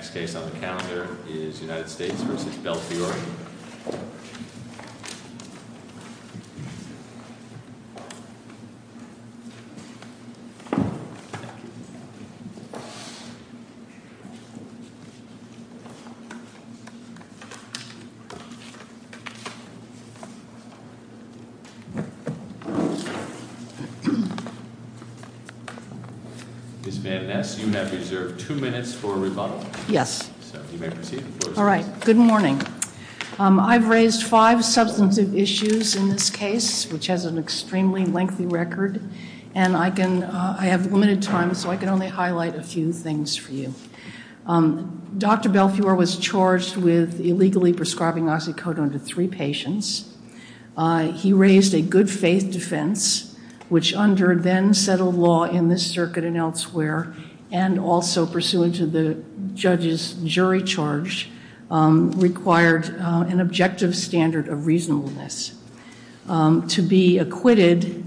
Ms. Madness, you have reserved two minutes for rebuttal. Yes. All right. Good morning. I've raised five substantive issues in this case, which has an extremely lengthy record, and I have limited time, so I can only highlight a few things for you. Dr. Belfiore was charged with illegally prescribing Oxycodone to three patients. He raised a good-faith defense, which under then-settled law in this circuit and elsewhere, and also pursuant to the judge's jury charge, required an objective standard of reasonableness. To be acquitted,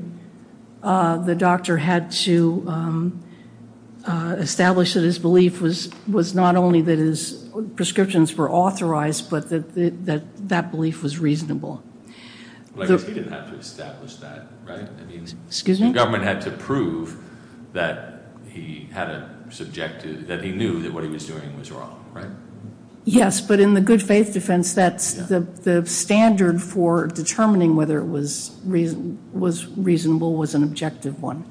the doctor had to establish that his belief was not only that his prescriptions were authorized, but that that belief was reasonable. But he didn't have to establish that, right? Excuse me? The government had to prove that he knew that what he was doing was wrong, right? Yes, but in the good-faith defense, the standard for determining whether it was reasonable was an objective one,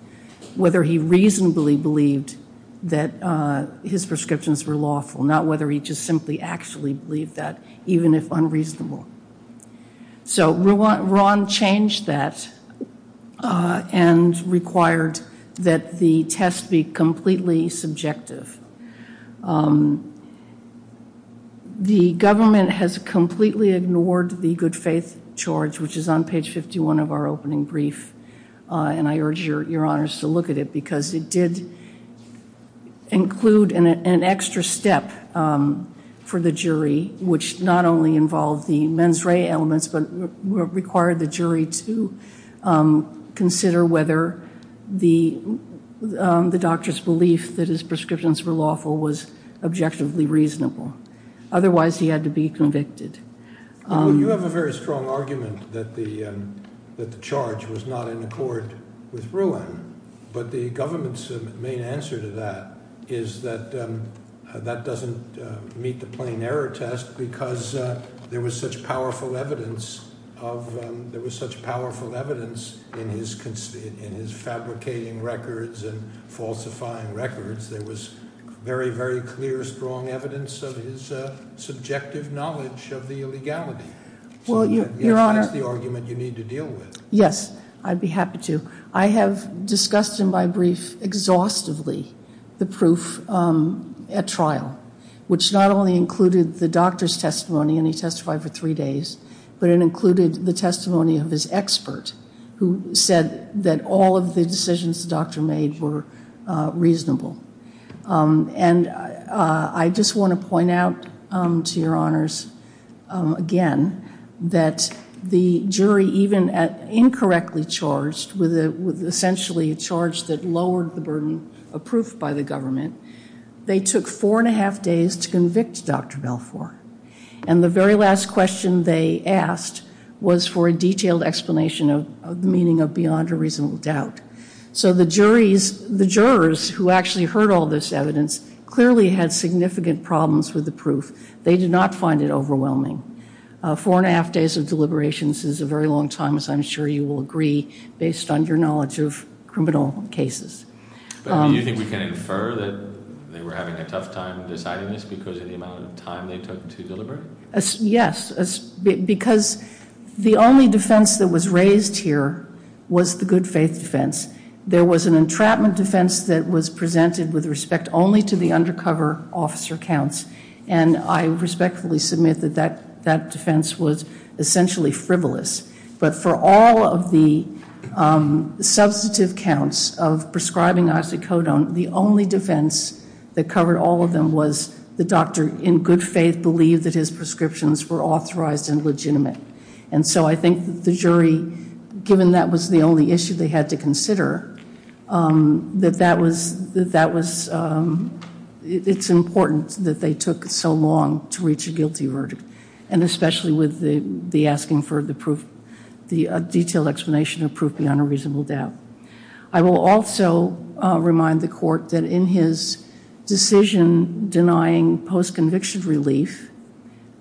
whether he reasonably believed that his prescriptions were lawful, not whether he just simply actually believed that, even if unreasonable. So Ron changed that and required that the test be completely subjective. The government has completely ignored the good-faith charge, which is on page 51 of our opening brief, and I urge your honors to look at it, because it did include an extra step for the jury, which not only involved the mens rea elements, but required the jury to consider whether the doctor's belief that his prescriptions were lawful. Objectively reasonable. Otherwise, he had to be convicted. You have a very strong argument that the that the charge was not in accord with ruling, but the government's main answer to that is that that doesn't meet the plain error test because there was such powerful evidence of there was such powerful evidence in his in his fabricating records and falsifying records. There was very, very clear, strong evidence of his subjective knowledge of the illegality. Well, you're on the argument you need to deal with. Yes, I'd be happy to. I have discussed in my brief exhaustively the proof at trial, which not only included the doctor's testimony, and he testified for three days, but it included the testimony of his expert who said that all of the decisions the doctor made were reasonable. And I just want to point out to your honors again that the jury, even at incorrectly charged with essentially a charge that lowered the burden approved by the government, they took four and a half days to convict Dr. Balfour. And the very last question they asked was for a detailed explanation of the meaning of beyond a reasonable doubt. So the juries, the jurors who actually heard all this evidence clearly had significant problems with the proof. They did not find it overwhelming. Four and a half days of deliberations is a very long time, as I'm sure you will agree, based on your knowledge of criminal cases. Do you think we can infer that they were having a tough time deciding this because of the amount of time they took to deliberate? Yes, because the only defense that was raised here was the good faith defense. There was an entrapment defense that was presented with respect only to the undercover officer counts, and I respectfully submit that that defense was essentially frivolous. But for all of the substantive counts of prescribing isocodone, the only defense that covered all of them was the doctor in good faith believed that his prescriptions were authorized and legitimate. And so I think the jury, given that was the only issue they had to consider, that that was, it's important that they took so long to reach a guilty verdict. And especially with the asking for the detailed explanation of proof beyond a reasonable doubt. I will also remind the court that in his decision denying post-conviction relief,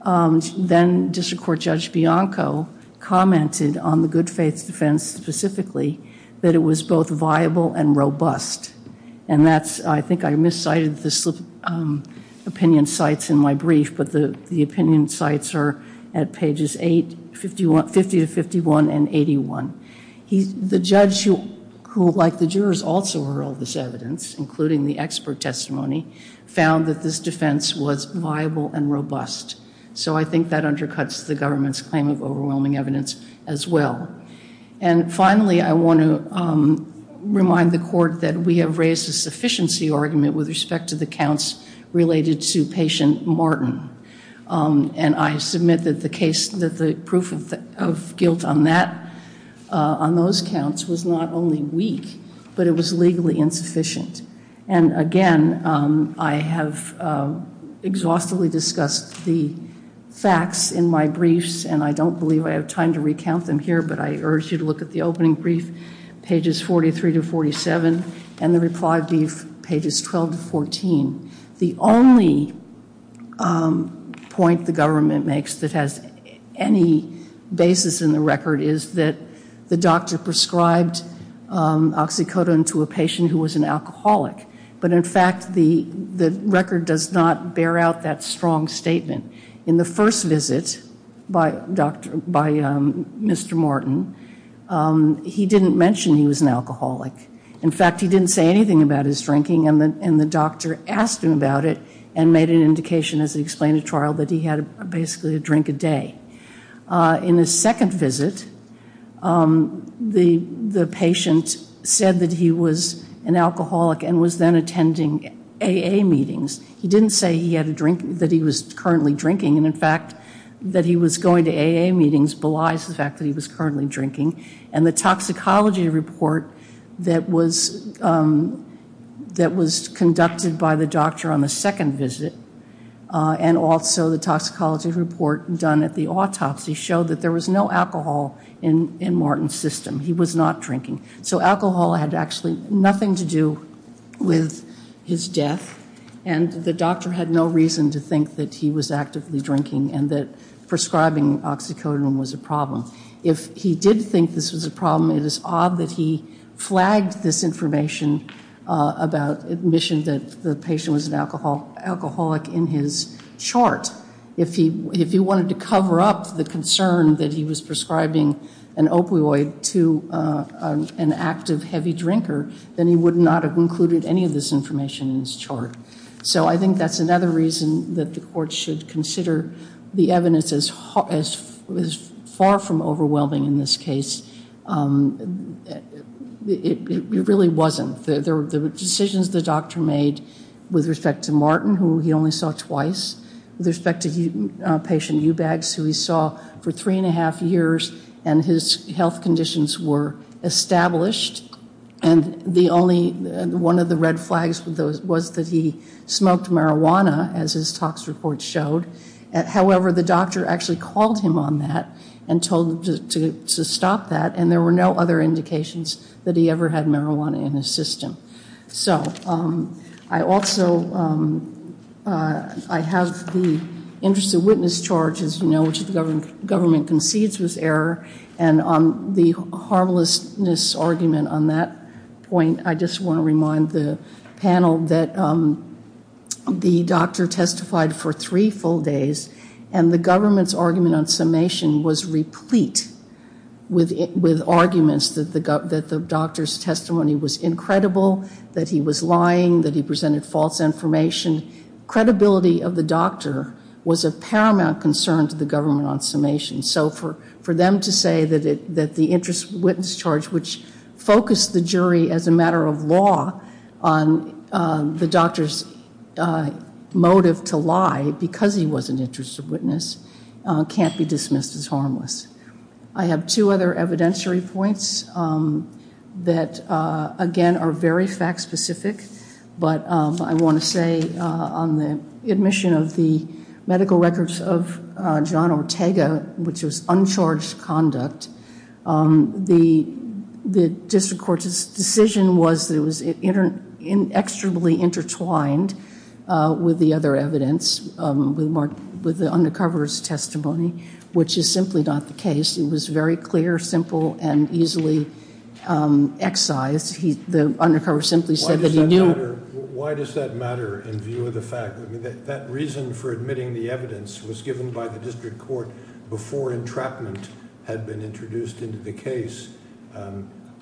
then District Court Judge Bianco commented on the good faith defense specifically, that it was both viable and robust. And that's, I think I miscited the opinion sites in my brief, but the opinion sites are at pages 50 to 51 and 81. The judge who, like the jurors, also heard all this evidence, including the expert testimony, found that this defense was viable and robust. So I think that undercuts the government's claim of overwhelming evidence as well. And finally, I want to remind the court that we have raised a sufficiency argument with respect to the counts related to patient Martin. And I submit that the case, that the proof of guilt on that, on those counts, was not only weak, but it was legally insufficient. And again, I have exhaustively discussed the facts in my briefs, and I don't believe I have time to recount them here, but I urge you to look at the opening brief, pages 43 to 47, and the reply brief, pages 12 to 14. The only point the government makes that has any basis in the record is that the doctor prescribed oxycodone to a patient who was an alcoholic. But in fact, the record does not bear out that strong statement. In the first visit by Mr. Martin, he didn't mention he was an alcoholic. In fact, he didn't say anything about his drinking, and the doctor asked him about it and made an indication as he explained to trial that he had basically a drink a day. In his second visit, the patient said that he was an alcoholic and was then attending AA meetings. He didn't say he had a drink, that he was currently drinking, and in fact, that he was going to AA meetings belies the fact that he was currently drinking. And the toxicology report that was conducted by the doctor on the second visit and also the toxicology report done at the autopsy showed that there was no alcohol in Martin's system. He was not drinking. So alcohol had actually nothing to do with his death, and the doctor had no reason to think that he was actively drinking and that prescribing oxycodone was a problem. If he did think this was a problem, it is odd that he flagged this information about admission that the patient was an alcoholic in his chart. If he wanted to cover up the concern that he was prescribing an opioid to an active heavy drinker, then he would not have included any of this information in his chart. So I think that's another reason that the court should consider the evidence as far from overwhelming in this case. It really wasn't. The decisions the doctor made with respect to Martin, who he only saw twice, with respect to patient Eubanks, who he saw for three and a half years, and his health conditions were established, and one of the red flags was that he smoked marijuana, as his tox report showed. However, the doctor actually called him on that and told him to stop that, and there were no other indications that he ever had marijuana in his system. So I also have the interest of witness charge, as you know, which the government concedes was error, and on the harmlessness argument on that point, I just want to remind the panel that the doctor testified for three full days, and the government's argument on summation was replete with arguments that the doctor's testimony was incredible, that he was lying, that he presented false information. Credibility of the doctor was of paramount concern to the government on summation. So for them to say that the interest of witness charge, which focused the jury as a matter of law on the doctor's motive to lie because he was an interest of witness, can't be dismissed as harmless. I have two other evidentiary points that, again, are very fact-specific, but I want to say on the admission of the medical records of John Ortega, which was uncharged conduct, the district court's decision was that it was inexorably intertwined with the other evidence, with the undercover's testimony, which is simply not the case. It was very clear, simple, and easily excised. The undercover simply said that he knew. Why does that matter in view of the fact that that reason for admitting the evidence was given by the district court before entrapment had been introduced into the case?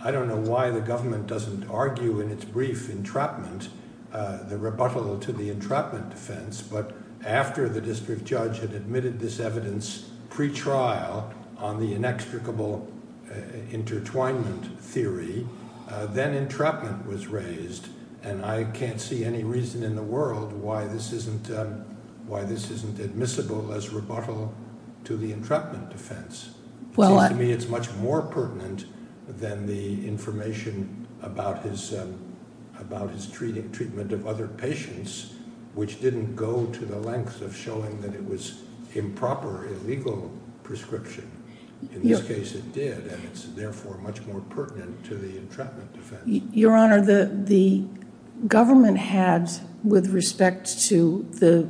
I don't know why the government doesn't argue in its brief entrapment the rebuttal to the entrapment defense, but after the district judge had admitted this evidence pretrial on the inextricable intertwinement theory, then entrapment was raised, and I can't see any reason in the world why this isn't admissible as rebuttal to the entrapment defense. It seems to me it's much more pertinent than the information about his treatment of other patients, which didn't go to the length of showing that it was improper, illegal prescription. In this case, it did, and it's therefore much more pertinent to the entrapment defense. Your Honor, the government had, with respect to the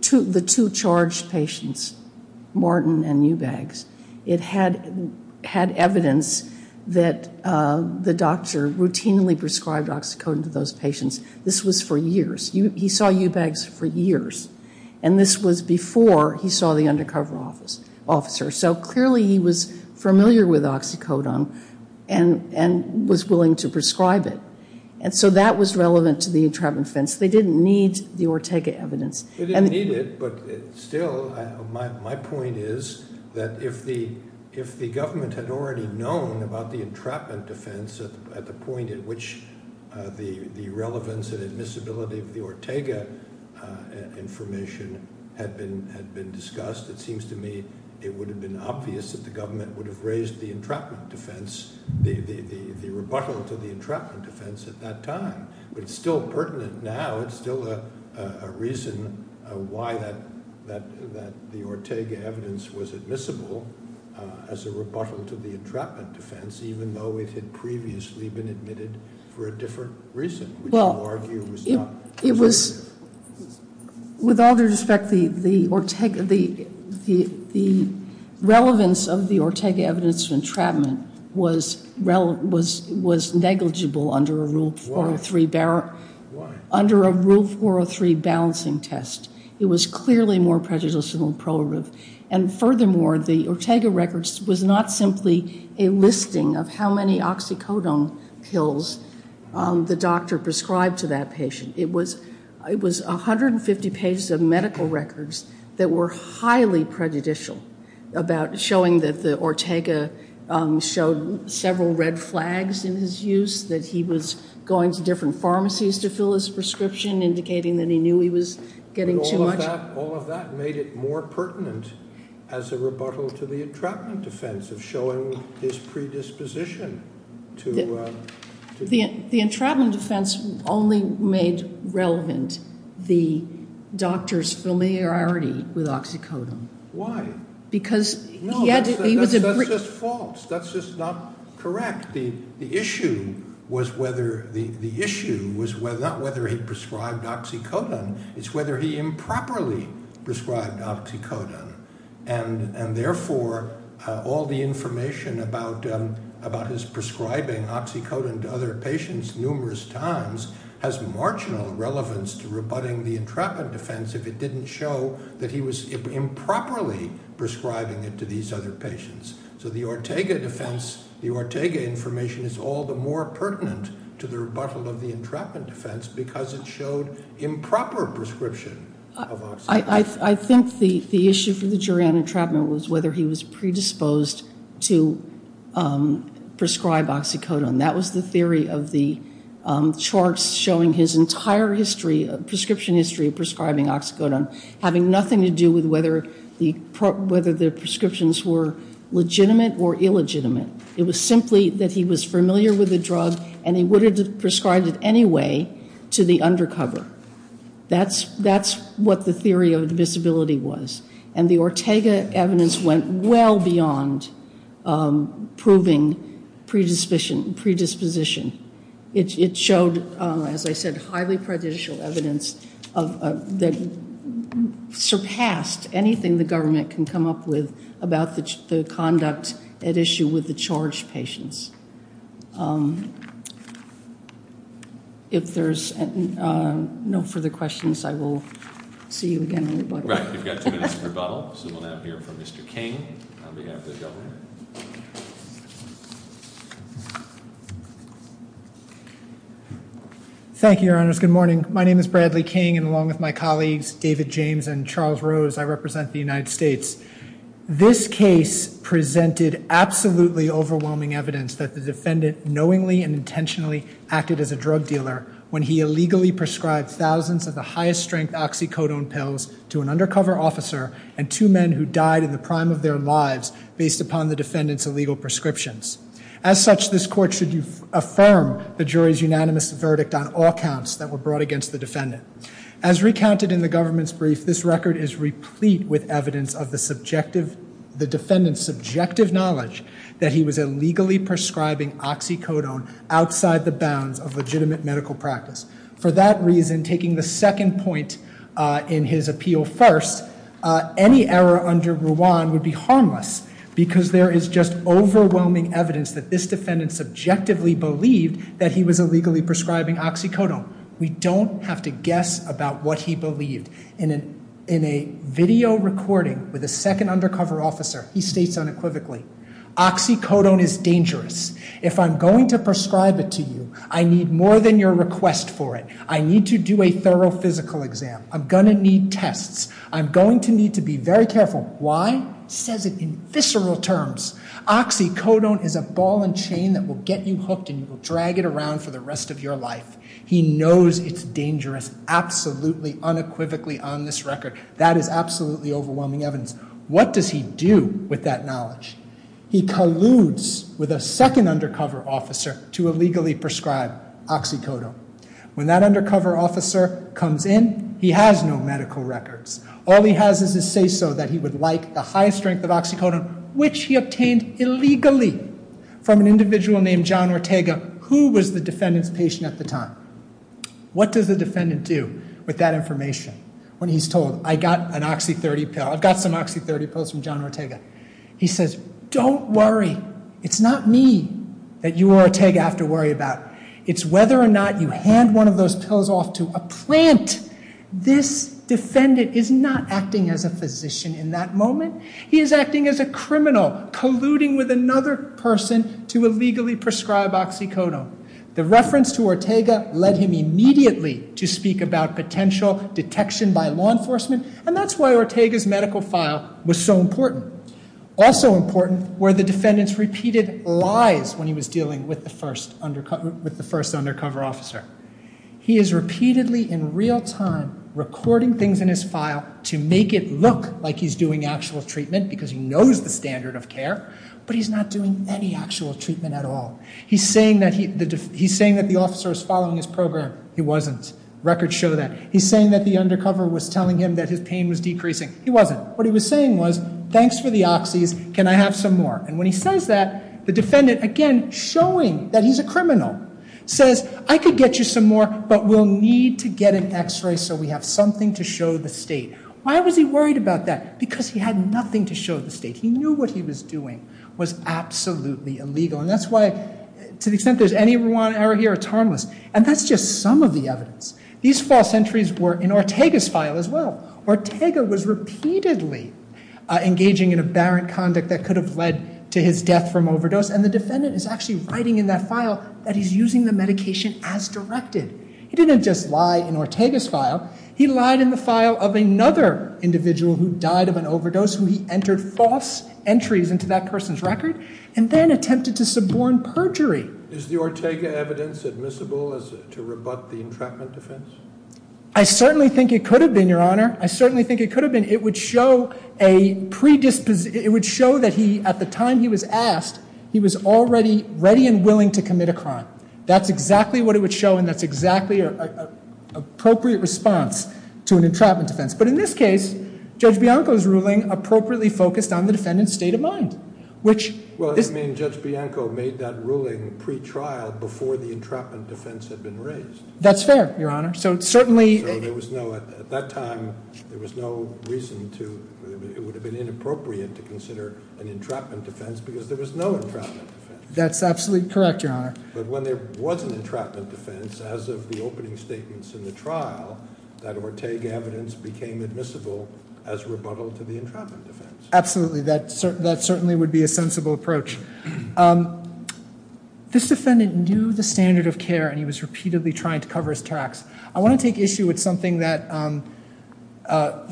two charged patients, Martin and Eubanks, it had evidence that the doctor routinely prescribed oxycodone to those patients. This was for years. He saw Eubanks for years, and this was before he saw the undercover officer. So clearly he was familiar with oxycodone and was willing to prescribe it. And so that was relevant to the entrapment defense. They didn't need the Ortega evidence. They didn't need it, but still my point is that if the government had already known about the entrapment defense at the point at which the relevance and admissibility of the Ortega information had been discussed, it seems to me it would have been obvious that the government would have raised the entrapment defense, the rebuttal to the entrapment defense at that time. But it's still pertinent now. It's still a reason why the Ortega evidence was admissible as a rebuttal to the entrapment defense, even though it had previously been admitted for a different reason, which you argue was not- It was, with all due respect, the relevance of the Ortega evidence of entrapment was negligible under a Rule 403- Why? Under a Rule 403 balancing test. It was clearly more prejudicial and prohibitive. And furthermore, the Ortega records was not simply a listing of how many oxycodone pills the doctor prescribed to that patient. It was 150 pages of medical records that were highly prejudicial about showing that the Ortega showed several red flags in his use, that he was going to different pharmacies to fill his prescription, indicating that he knew he was getting too much- All of that made it more pertinent as a rebuttal to the entrapment defense of showing his predisposition to- The entrapment defense only made relevant the doctor's familiarity with oxycodone. Why? Because he had- No, that's just false. That's just not correct. The issue was whether- the issue was not whether he prescribed oxycodone. It's whether he improperly prescribed oxycodone. And therefore, all the information about his prescribing oxycodone to other patients numerous times has marginal relevance to rebutting the entrapment defense if it didn't show that he was improperly prescribing it to these other patients. So the Ortega defense- the Ortega information is all the more pertinent to the rebuttal of the entrapment defense because it showed improper prescription of oxycodone. I think the issue for the jury on entrapment was whether he was predisposed to prescribe oxycodone. That was the theory of the charts showing his entire history- prescription history of prescribing oxycodone having nothing to do with whether the prescriptions were legitimate or illegitimate. It was simply that he was familiar with the drug and he would have prescribed it anyway to the undercover. That's what the theory of invisibility was. And the Ortega evidence went well beyond proving predisposition. It showed, as I said, highly prejudicial evidence that surpassed anything the government can come up with about the conduct at issue with the charged patients. If there's no further questions, I will see you again in rebuttal. Right. We've got two minutes for rebuttal, so we'll now hear from Mr. King on behalf of the government. Thank you, Your Honors. Good morning. My name is Bradley King, and along with my colleagues, David James and Charles Rose, I represent the United States. This case presented absolutely overwhelming evidence that the defendant knowingly and intentionally acted as a drug dealer when he illegally prescribed thousands of the highest strength oxycodone pills to an undercover officer and two men who died in the prime of their lives based upon the defendant's illegal prescriptions. As such, this court should affirm the jury's unanimous verdict on all counts that were brought against the defendant. As recounted in the government's brief, this record is replete with evidence of the defendant's subjective knowledge that he was illegally prescribing oxycodone outside the bounds of legitimate medical practice. For that reason, taking the second point in his appeal first, any error under Ruan would be harmless because there is just overwhelming evidence that this defendant subjectively believed that he was illegally prescribing oxycodone. We don't have to guess about what he believed. In a video recording with a second undercover officer, he states unequivocally, oxycodone is dangerous. If I'm going to prescribe it to you, I need more than your request for it. I need to do a thorough physical exam. I'm going to need tests. I'm going to need to be very careful. Why? He says it in visceral terms. Oxycodone is a ball and chain that will get you hooked and you will drag it around for the rest of your life. He knows it's dangerous absolutely unequivocally on this record. That is absolutely overwhelming evidence. What does he do with that knowledge? He colludes with a second undercover officer to illegally prescribe oxycodone. When that undercover officer comes in, he has no medical records. All he has is his say-so that he would like the highest strength of oxycodone, which he obtained illegally from an individual named John Ortega, who was the defendant's patient at the time. What does the defendant do with that information when he's told, I've got some Oxy30 pills from John Ortega? He says, don't worry. It's not me that you or Ortega have to worry about. It's whether or not you hand one of those pills off to a plant. This defendant is not acting as a physician in that moment. He is acting as a criminal, colluding with another person to illegally prescribe oxycodone. The reference to Ortega led him immediately to speak about potential detection by law enforcement, and that's why Ortega's medical file was so important. Also important were the defendant's repeated lies when he was dealing with the first undercover officer. He is repeatedly in real time recording things in his file to make it look like he's doing actual treatment because he knows the standard of care, but he's not doing any actual treatment at all. He's saying that the officer was following his program. He wasn't. Records show that. He's saying that the undercover was telling him that his pain was decreasing. He wasn't. What he was saying was, thanks for the oxys. Can I have some more? And when he says that, the defendant, again, showing that he's a criminal, says, I could get you some more, but we'll need to get an x-ray so we have something to show the state. Why was he worried about that? Because he had nothing to show the state. He knew what he was doing was absolutely illegal, and that's why, to the extent there's any Rwanda error here, it's harmless. And that's just some of the evidence. These false entries were in Ortega's file as well. Ortega was repeatedly engaging in aberrant conduct that could have led to his death from overdose, and the defendant is actually writing in that file that he's using the medication as directed. He didn't just lie in Ortega's file. He lied in the file of another individual who died of an overdose, who he entered false entries into that person's record, and then attempted to suborn perjury. Is the Ortega evidence admissible as to rebut the entrapment defense? I certainly think it could have been, Your Honor. I certainly think it could have been. It would show that at the time he was asked, he was already ready and willing to commit a crime. That's exactly what it would show, and that's exactly an appropriate response to an entrapment defense. But in this case, Judge Bianco's ruling appropriately focused on the defendant's state of mind. Well, that means Judge Bianco made that ruling pre-trial before the entrapment defense had been raised. That's fair, Your Honor. At that time, it would have been inappropriate to consider an entrapment defense because there was no entrapment defense. That's absolutely correct, Your Honor. But when there was an entrapment defense, as of the opening statements in the trial, that Ortega evidence became admissible as rebuttal to the entrapment defense. Absolutely. That certainly would be a sensible approach. This defendant knew the standard of care, and he was repeatedly trying to cover his tracks. I want to take issue with something that Mr.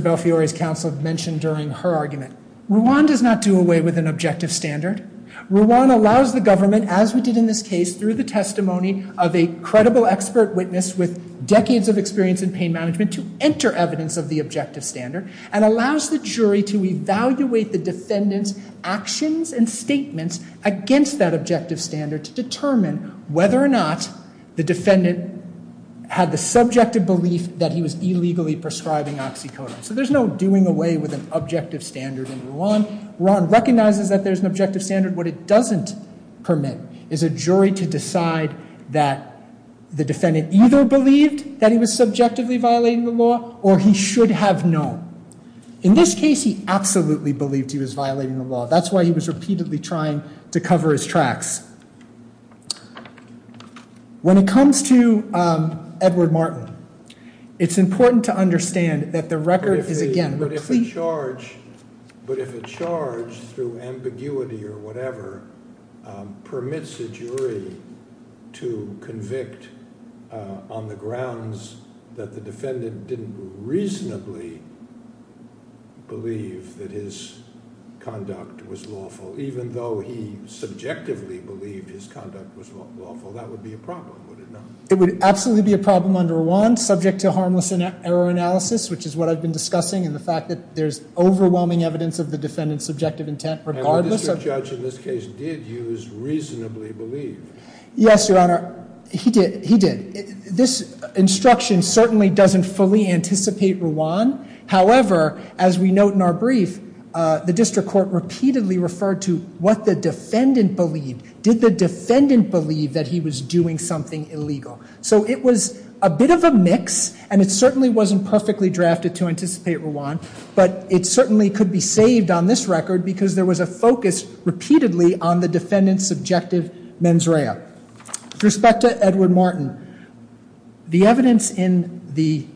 Belfiore's counsel mentioned during her argument. RUAN does not do away with an objective standard. RUAN allows the government, as we did in this case, through the testimony of a credible expert witness with decades of experience in pain management, to enter evidence of the objective standard and allows the jury to evaluate the defendant's actions and statements against that objective standard to determine whether or not the defendant had the subjective belief that he was illegally prescribing oxycodone. So there's no doing away with an objective standard in RUAN. RUAN recognizes that there's an objective standard. What it doesn't permit is a jury to decide that the defendant either believed that he was subjectively violating the law or he should have known. In this case, he absolutely believed he was violating the law. That's why he was repeatedly trying to cover his tracks. When it comes to Edward Martin, it's important to understand that the record is, again, complete. But if a charge, through ambiguity or whatever, permits a jury to convict on the grounds that the defendant didn't reasonably believe that his conduct was lawful, even though he subjectively believed his conduct was lawful, that would be a problem, would it not? It would absolutely be a problem under RUAN, subject to harmless error analysis, which is what I've been discussing, and the fact that there's overwhelming evidence of the defendant's subjective intent. And the district judge in this case did use reasonably believe. Yes, Your Honor, he did. This instruction certainly doesn't fully anticipate RUAN. However, as we note in our brief, the district court repeatedly referred to what the defendant believed. Did the defendant believe that he was doing something illegal? So it was a bit of a mix, and it certainly wasn't perfectly drafted to anticipate RUAN, but it certainly could be saved on this record because there was a focus repeatedly on the defendant's subjective mens rea. With respect to Edward Martin, the evidence in the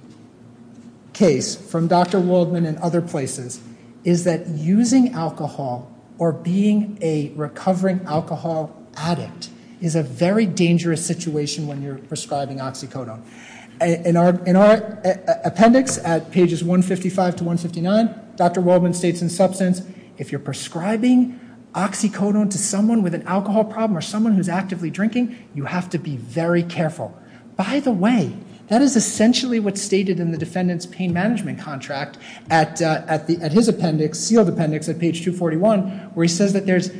case from Dr. Waldman and other places is that using alcohol or being a recovering alcohol addict is a very dangerous situation when you're prescribing oxycodone. In our appendix at pages 155 to 159, Dr. Waldman states in substance, if you're prescribing oxycodone to someone with an alcohol problem or someone who's actively drinking, you have to be very careful. By the way, that is essentially what's stated in the defendant's pain management contract at his appendix, sealed appendix at page 241, where he says that there's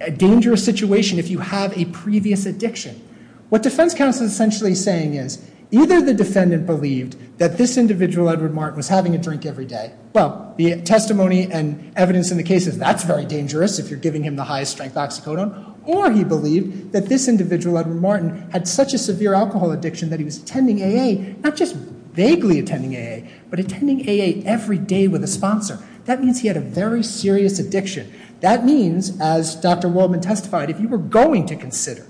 a dangerous situation if you have a previous addiction. What defense counsel is essentially saying is either the defendant believed that this individual, Edward Martin, was having a drink every day, well, the testimony and evidence in the case is that's very dangerous if you're giving him the highest strength oxycodone, or he believed that this individual, Edward Martin, had such a severe alcohol addiction that he was attending AA, not just vaguely attending AA, but attending AA every day with a sponsor. That means he had a very serious addiction. That means, as Dr. Waldman testified, if you were going to consider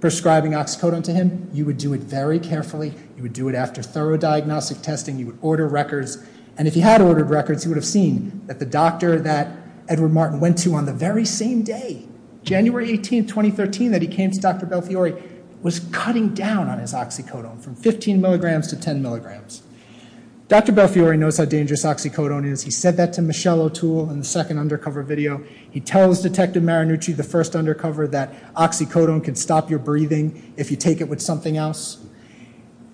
prescribing oxycodone to him, you would do it very carefully. You would do it after thorough diagnostic testing. You would order records. And if he had ordered records, he would have seen that the doctor that Edward Martin went to on the very same day, January 18, 2013, that he came to Dr. Belfiore, was cutting down on his oxycodone from 15 milligrams to 10 milligrams. Dr. Belfiore knows how dangerous oxycodone is. He said that to Michelle O'Toole in the second undercover video. He tells Detective Marinucci, the first undercover, that oxycodone can stop your breathing if you take it with something else.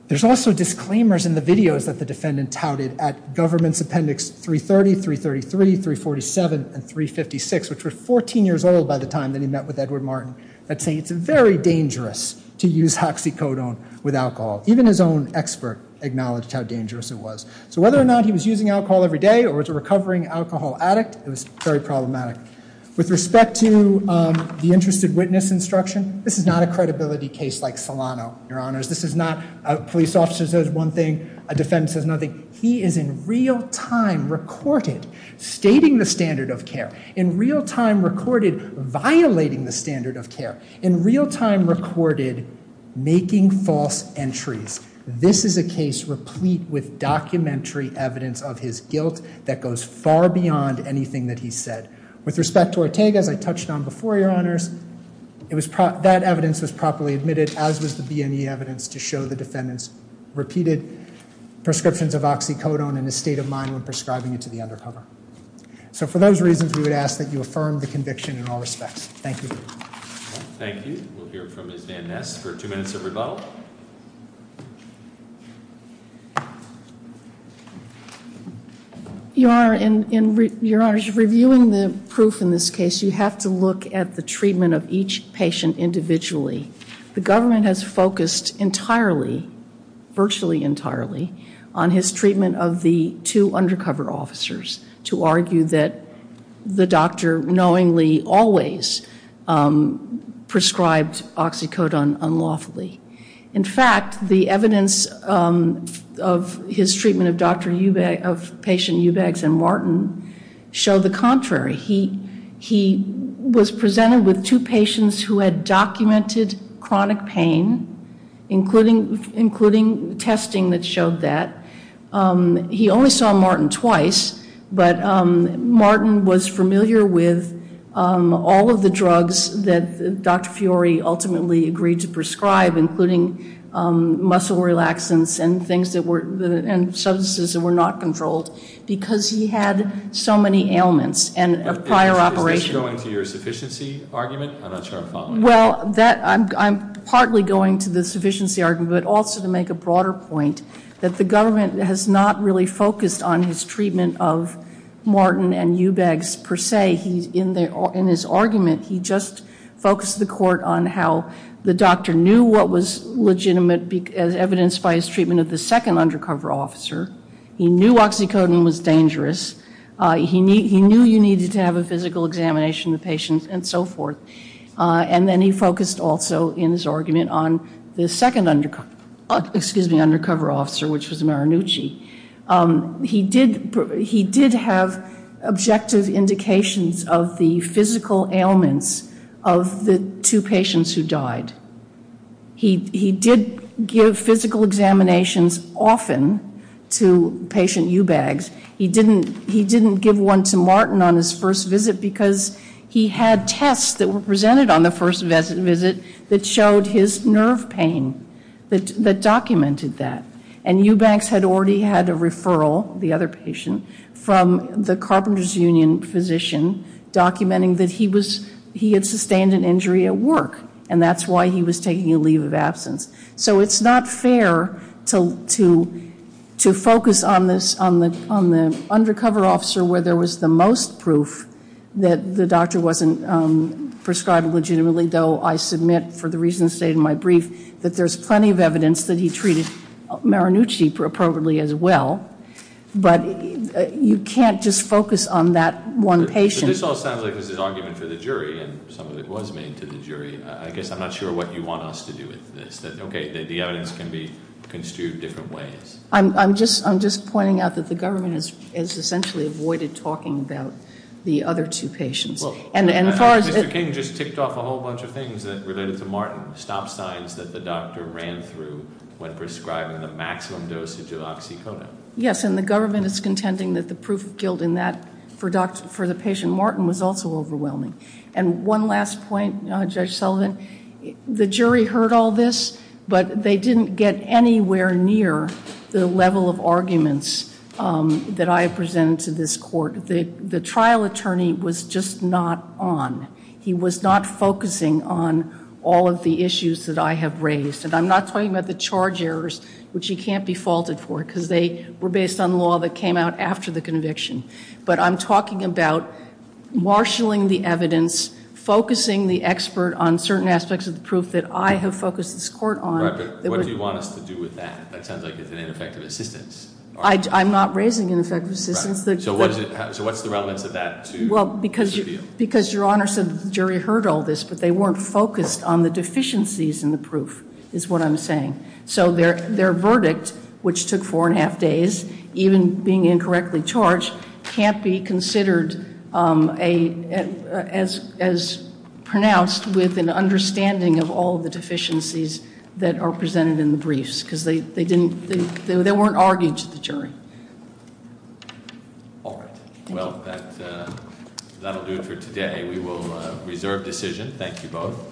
There's also disclaimers in the videos that the defendant touted at Governments Appendix 330, 333, 347, and 356, which were 14 years old by the time that he met with Edward Martin, that say it's very dangerous to use oxycodone with alcohol. Even his own expert acknowledged how dangerous it was. So whether or not he was using alcohol every day or was a recovering alcohol addict, it was very problematic. With respect to the interested witness instruction, this is not a credibility case like Solano, Your Honors. This is not a police officer says one thing, a defendant says another. He is in real time recorded stating the standard of care, in real time recorded violating the standard of care, in real time recorded making false entries. This is a case replete with documentary evidence of his guilt that goes far beyond anything that he said. With respect to Ortega, as I touched on before, Your Honors, that evidence was properly admitted as was the BME evidence to show the defendant's repeated prescriptions of oxycodone and his state of mind when prescribing it to the undercover. So for those reasons, we would ask that you affirm the conviction in all respects. Thank you. Thank you. We'll hear from Ms. Van Ness for two minutes of rebuttal. Your Honor, in reviewing the proof in this case, you have to look at the treatment of each patient individually. The government has focused entirely, virtually entirely, on his treatment of the two undercover officers to argue that the doctor knowingly always prescribed oxycodone unlawfully. In fact, the evidence of his treatment of patient Eubanks and Martin showed the contrary. He was presented with two patients who had documented chronic pain, including testing that showed that. He only saw Martin twice, but Martin was familiar with all of the drugs that Dr. Fiore ultimately agreed to prescribe including muscle relaxants and things that were, and substances that were not controlled because he had so many ailments and prior operation. Is this going to your sufficiency argument? I'm not sure I'm following. Well, that, I'm partly going to the sufficiency argument, but also to make a broader point that the government has not really focused on his treatment of Martin and Eubanks per se. In his argument, he just focused the court on how the doctor knew what was legitimate as evidenced by his treatment of the second undercover officer. He knew oxycodone was dangerous. He knew you needed to have a physical examination of the patient and so forth. And then he focused also in his argument on the second undercover officer, which was Marannucci. He did have objective indications of the physical ailments of the two patients who died. He did give physical examinations often to patient Eubanks. He didn't give one to Martin on his first visit because he had tests that were presented on the first visit that showed his nerve pain, that documented that. And Eubanks had already had a referral, the other patient, from the Carpenters Union physician documenting that he had sustained an injury at work. And that's why he was taking a leave of absence. So it's not fair to focus on the undercover officer where there was the most proof that the doctor wasn't prescribed legitimately, though I submit for the reasons stated in my brief that there's plenty of evidence that he treated Marannucci appropriately as well. But you can't just focus on that one patient. So this all sounds like this is argument for the jury, and some of it was made to the jury. I guess I'm not sure what you want us to do with this. Okay, the evidence can be construed different ways. I'm just pointing out that the government has essentially avoided talking about the other two patients. Mr. King just ticked off a whole bunch of things related to Martin, stop signs that the doctor ran through when prescribing the maximum dosage of oxycodone. Yes, and the government is contending that the proof of guilt in that for the patient Martin was also overwhelming. And one last point, Judge Sullivan. The jury heard all this, but they didn't get anywhere near the level of arguments that I presented to this court. The trial attorney was just not on. He was not focusing on all of the issues that I have raised. And I'm not talking about the charge errors, which he can't be faulted for, because they were based on law that came out after the conviction. But I'm talking about marshaling the evidence, focusing the expert on certain aspects of the proof that I have focused this court on. Right, but what do you want us to do with that? That sounds like it's an ineffective assistance. I'm not raising ineffective assistance. So what's the relevance of that to this review? Well, because your Honor said the jury heard all this, but they weren't focused on the deficiencies in the proof is what I'm saying. So their verdict, which took four and a half days, even being incorrectly charged can't be considered as pronounced with an understanding of all the deficiencies that are presented in the briefs, because they weren't arguing to the jury. All right. Well, that will do it for today. We will reserve decision. Thank you both.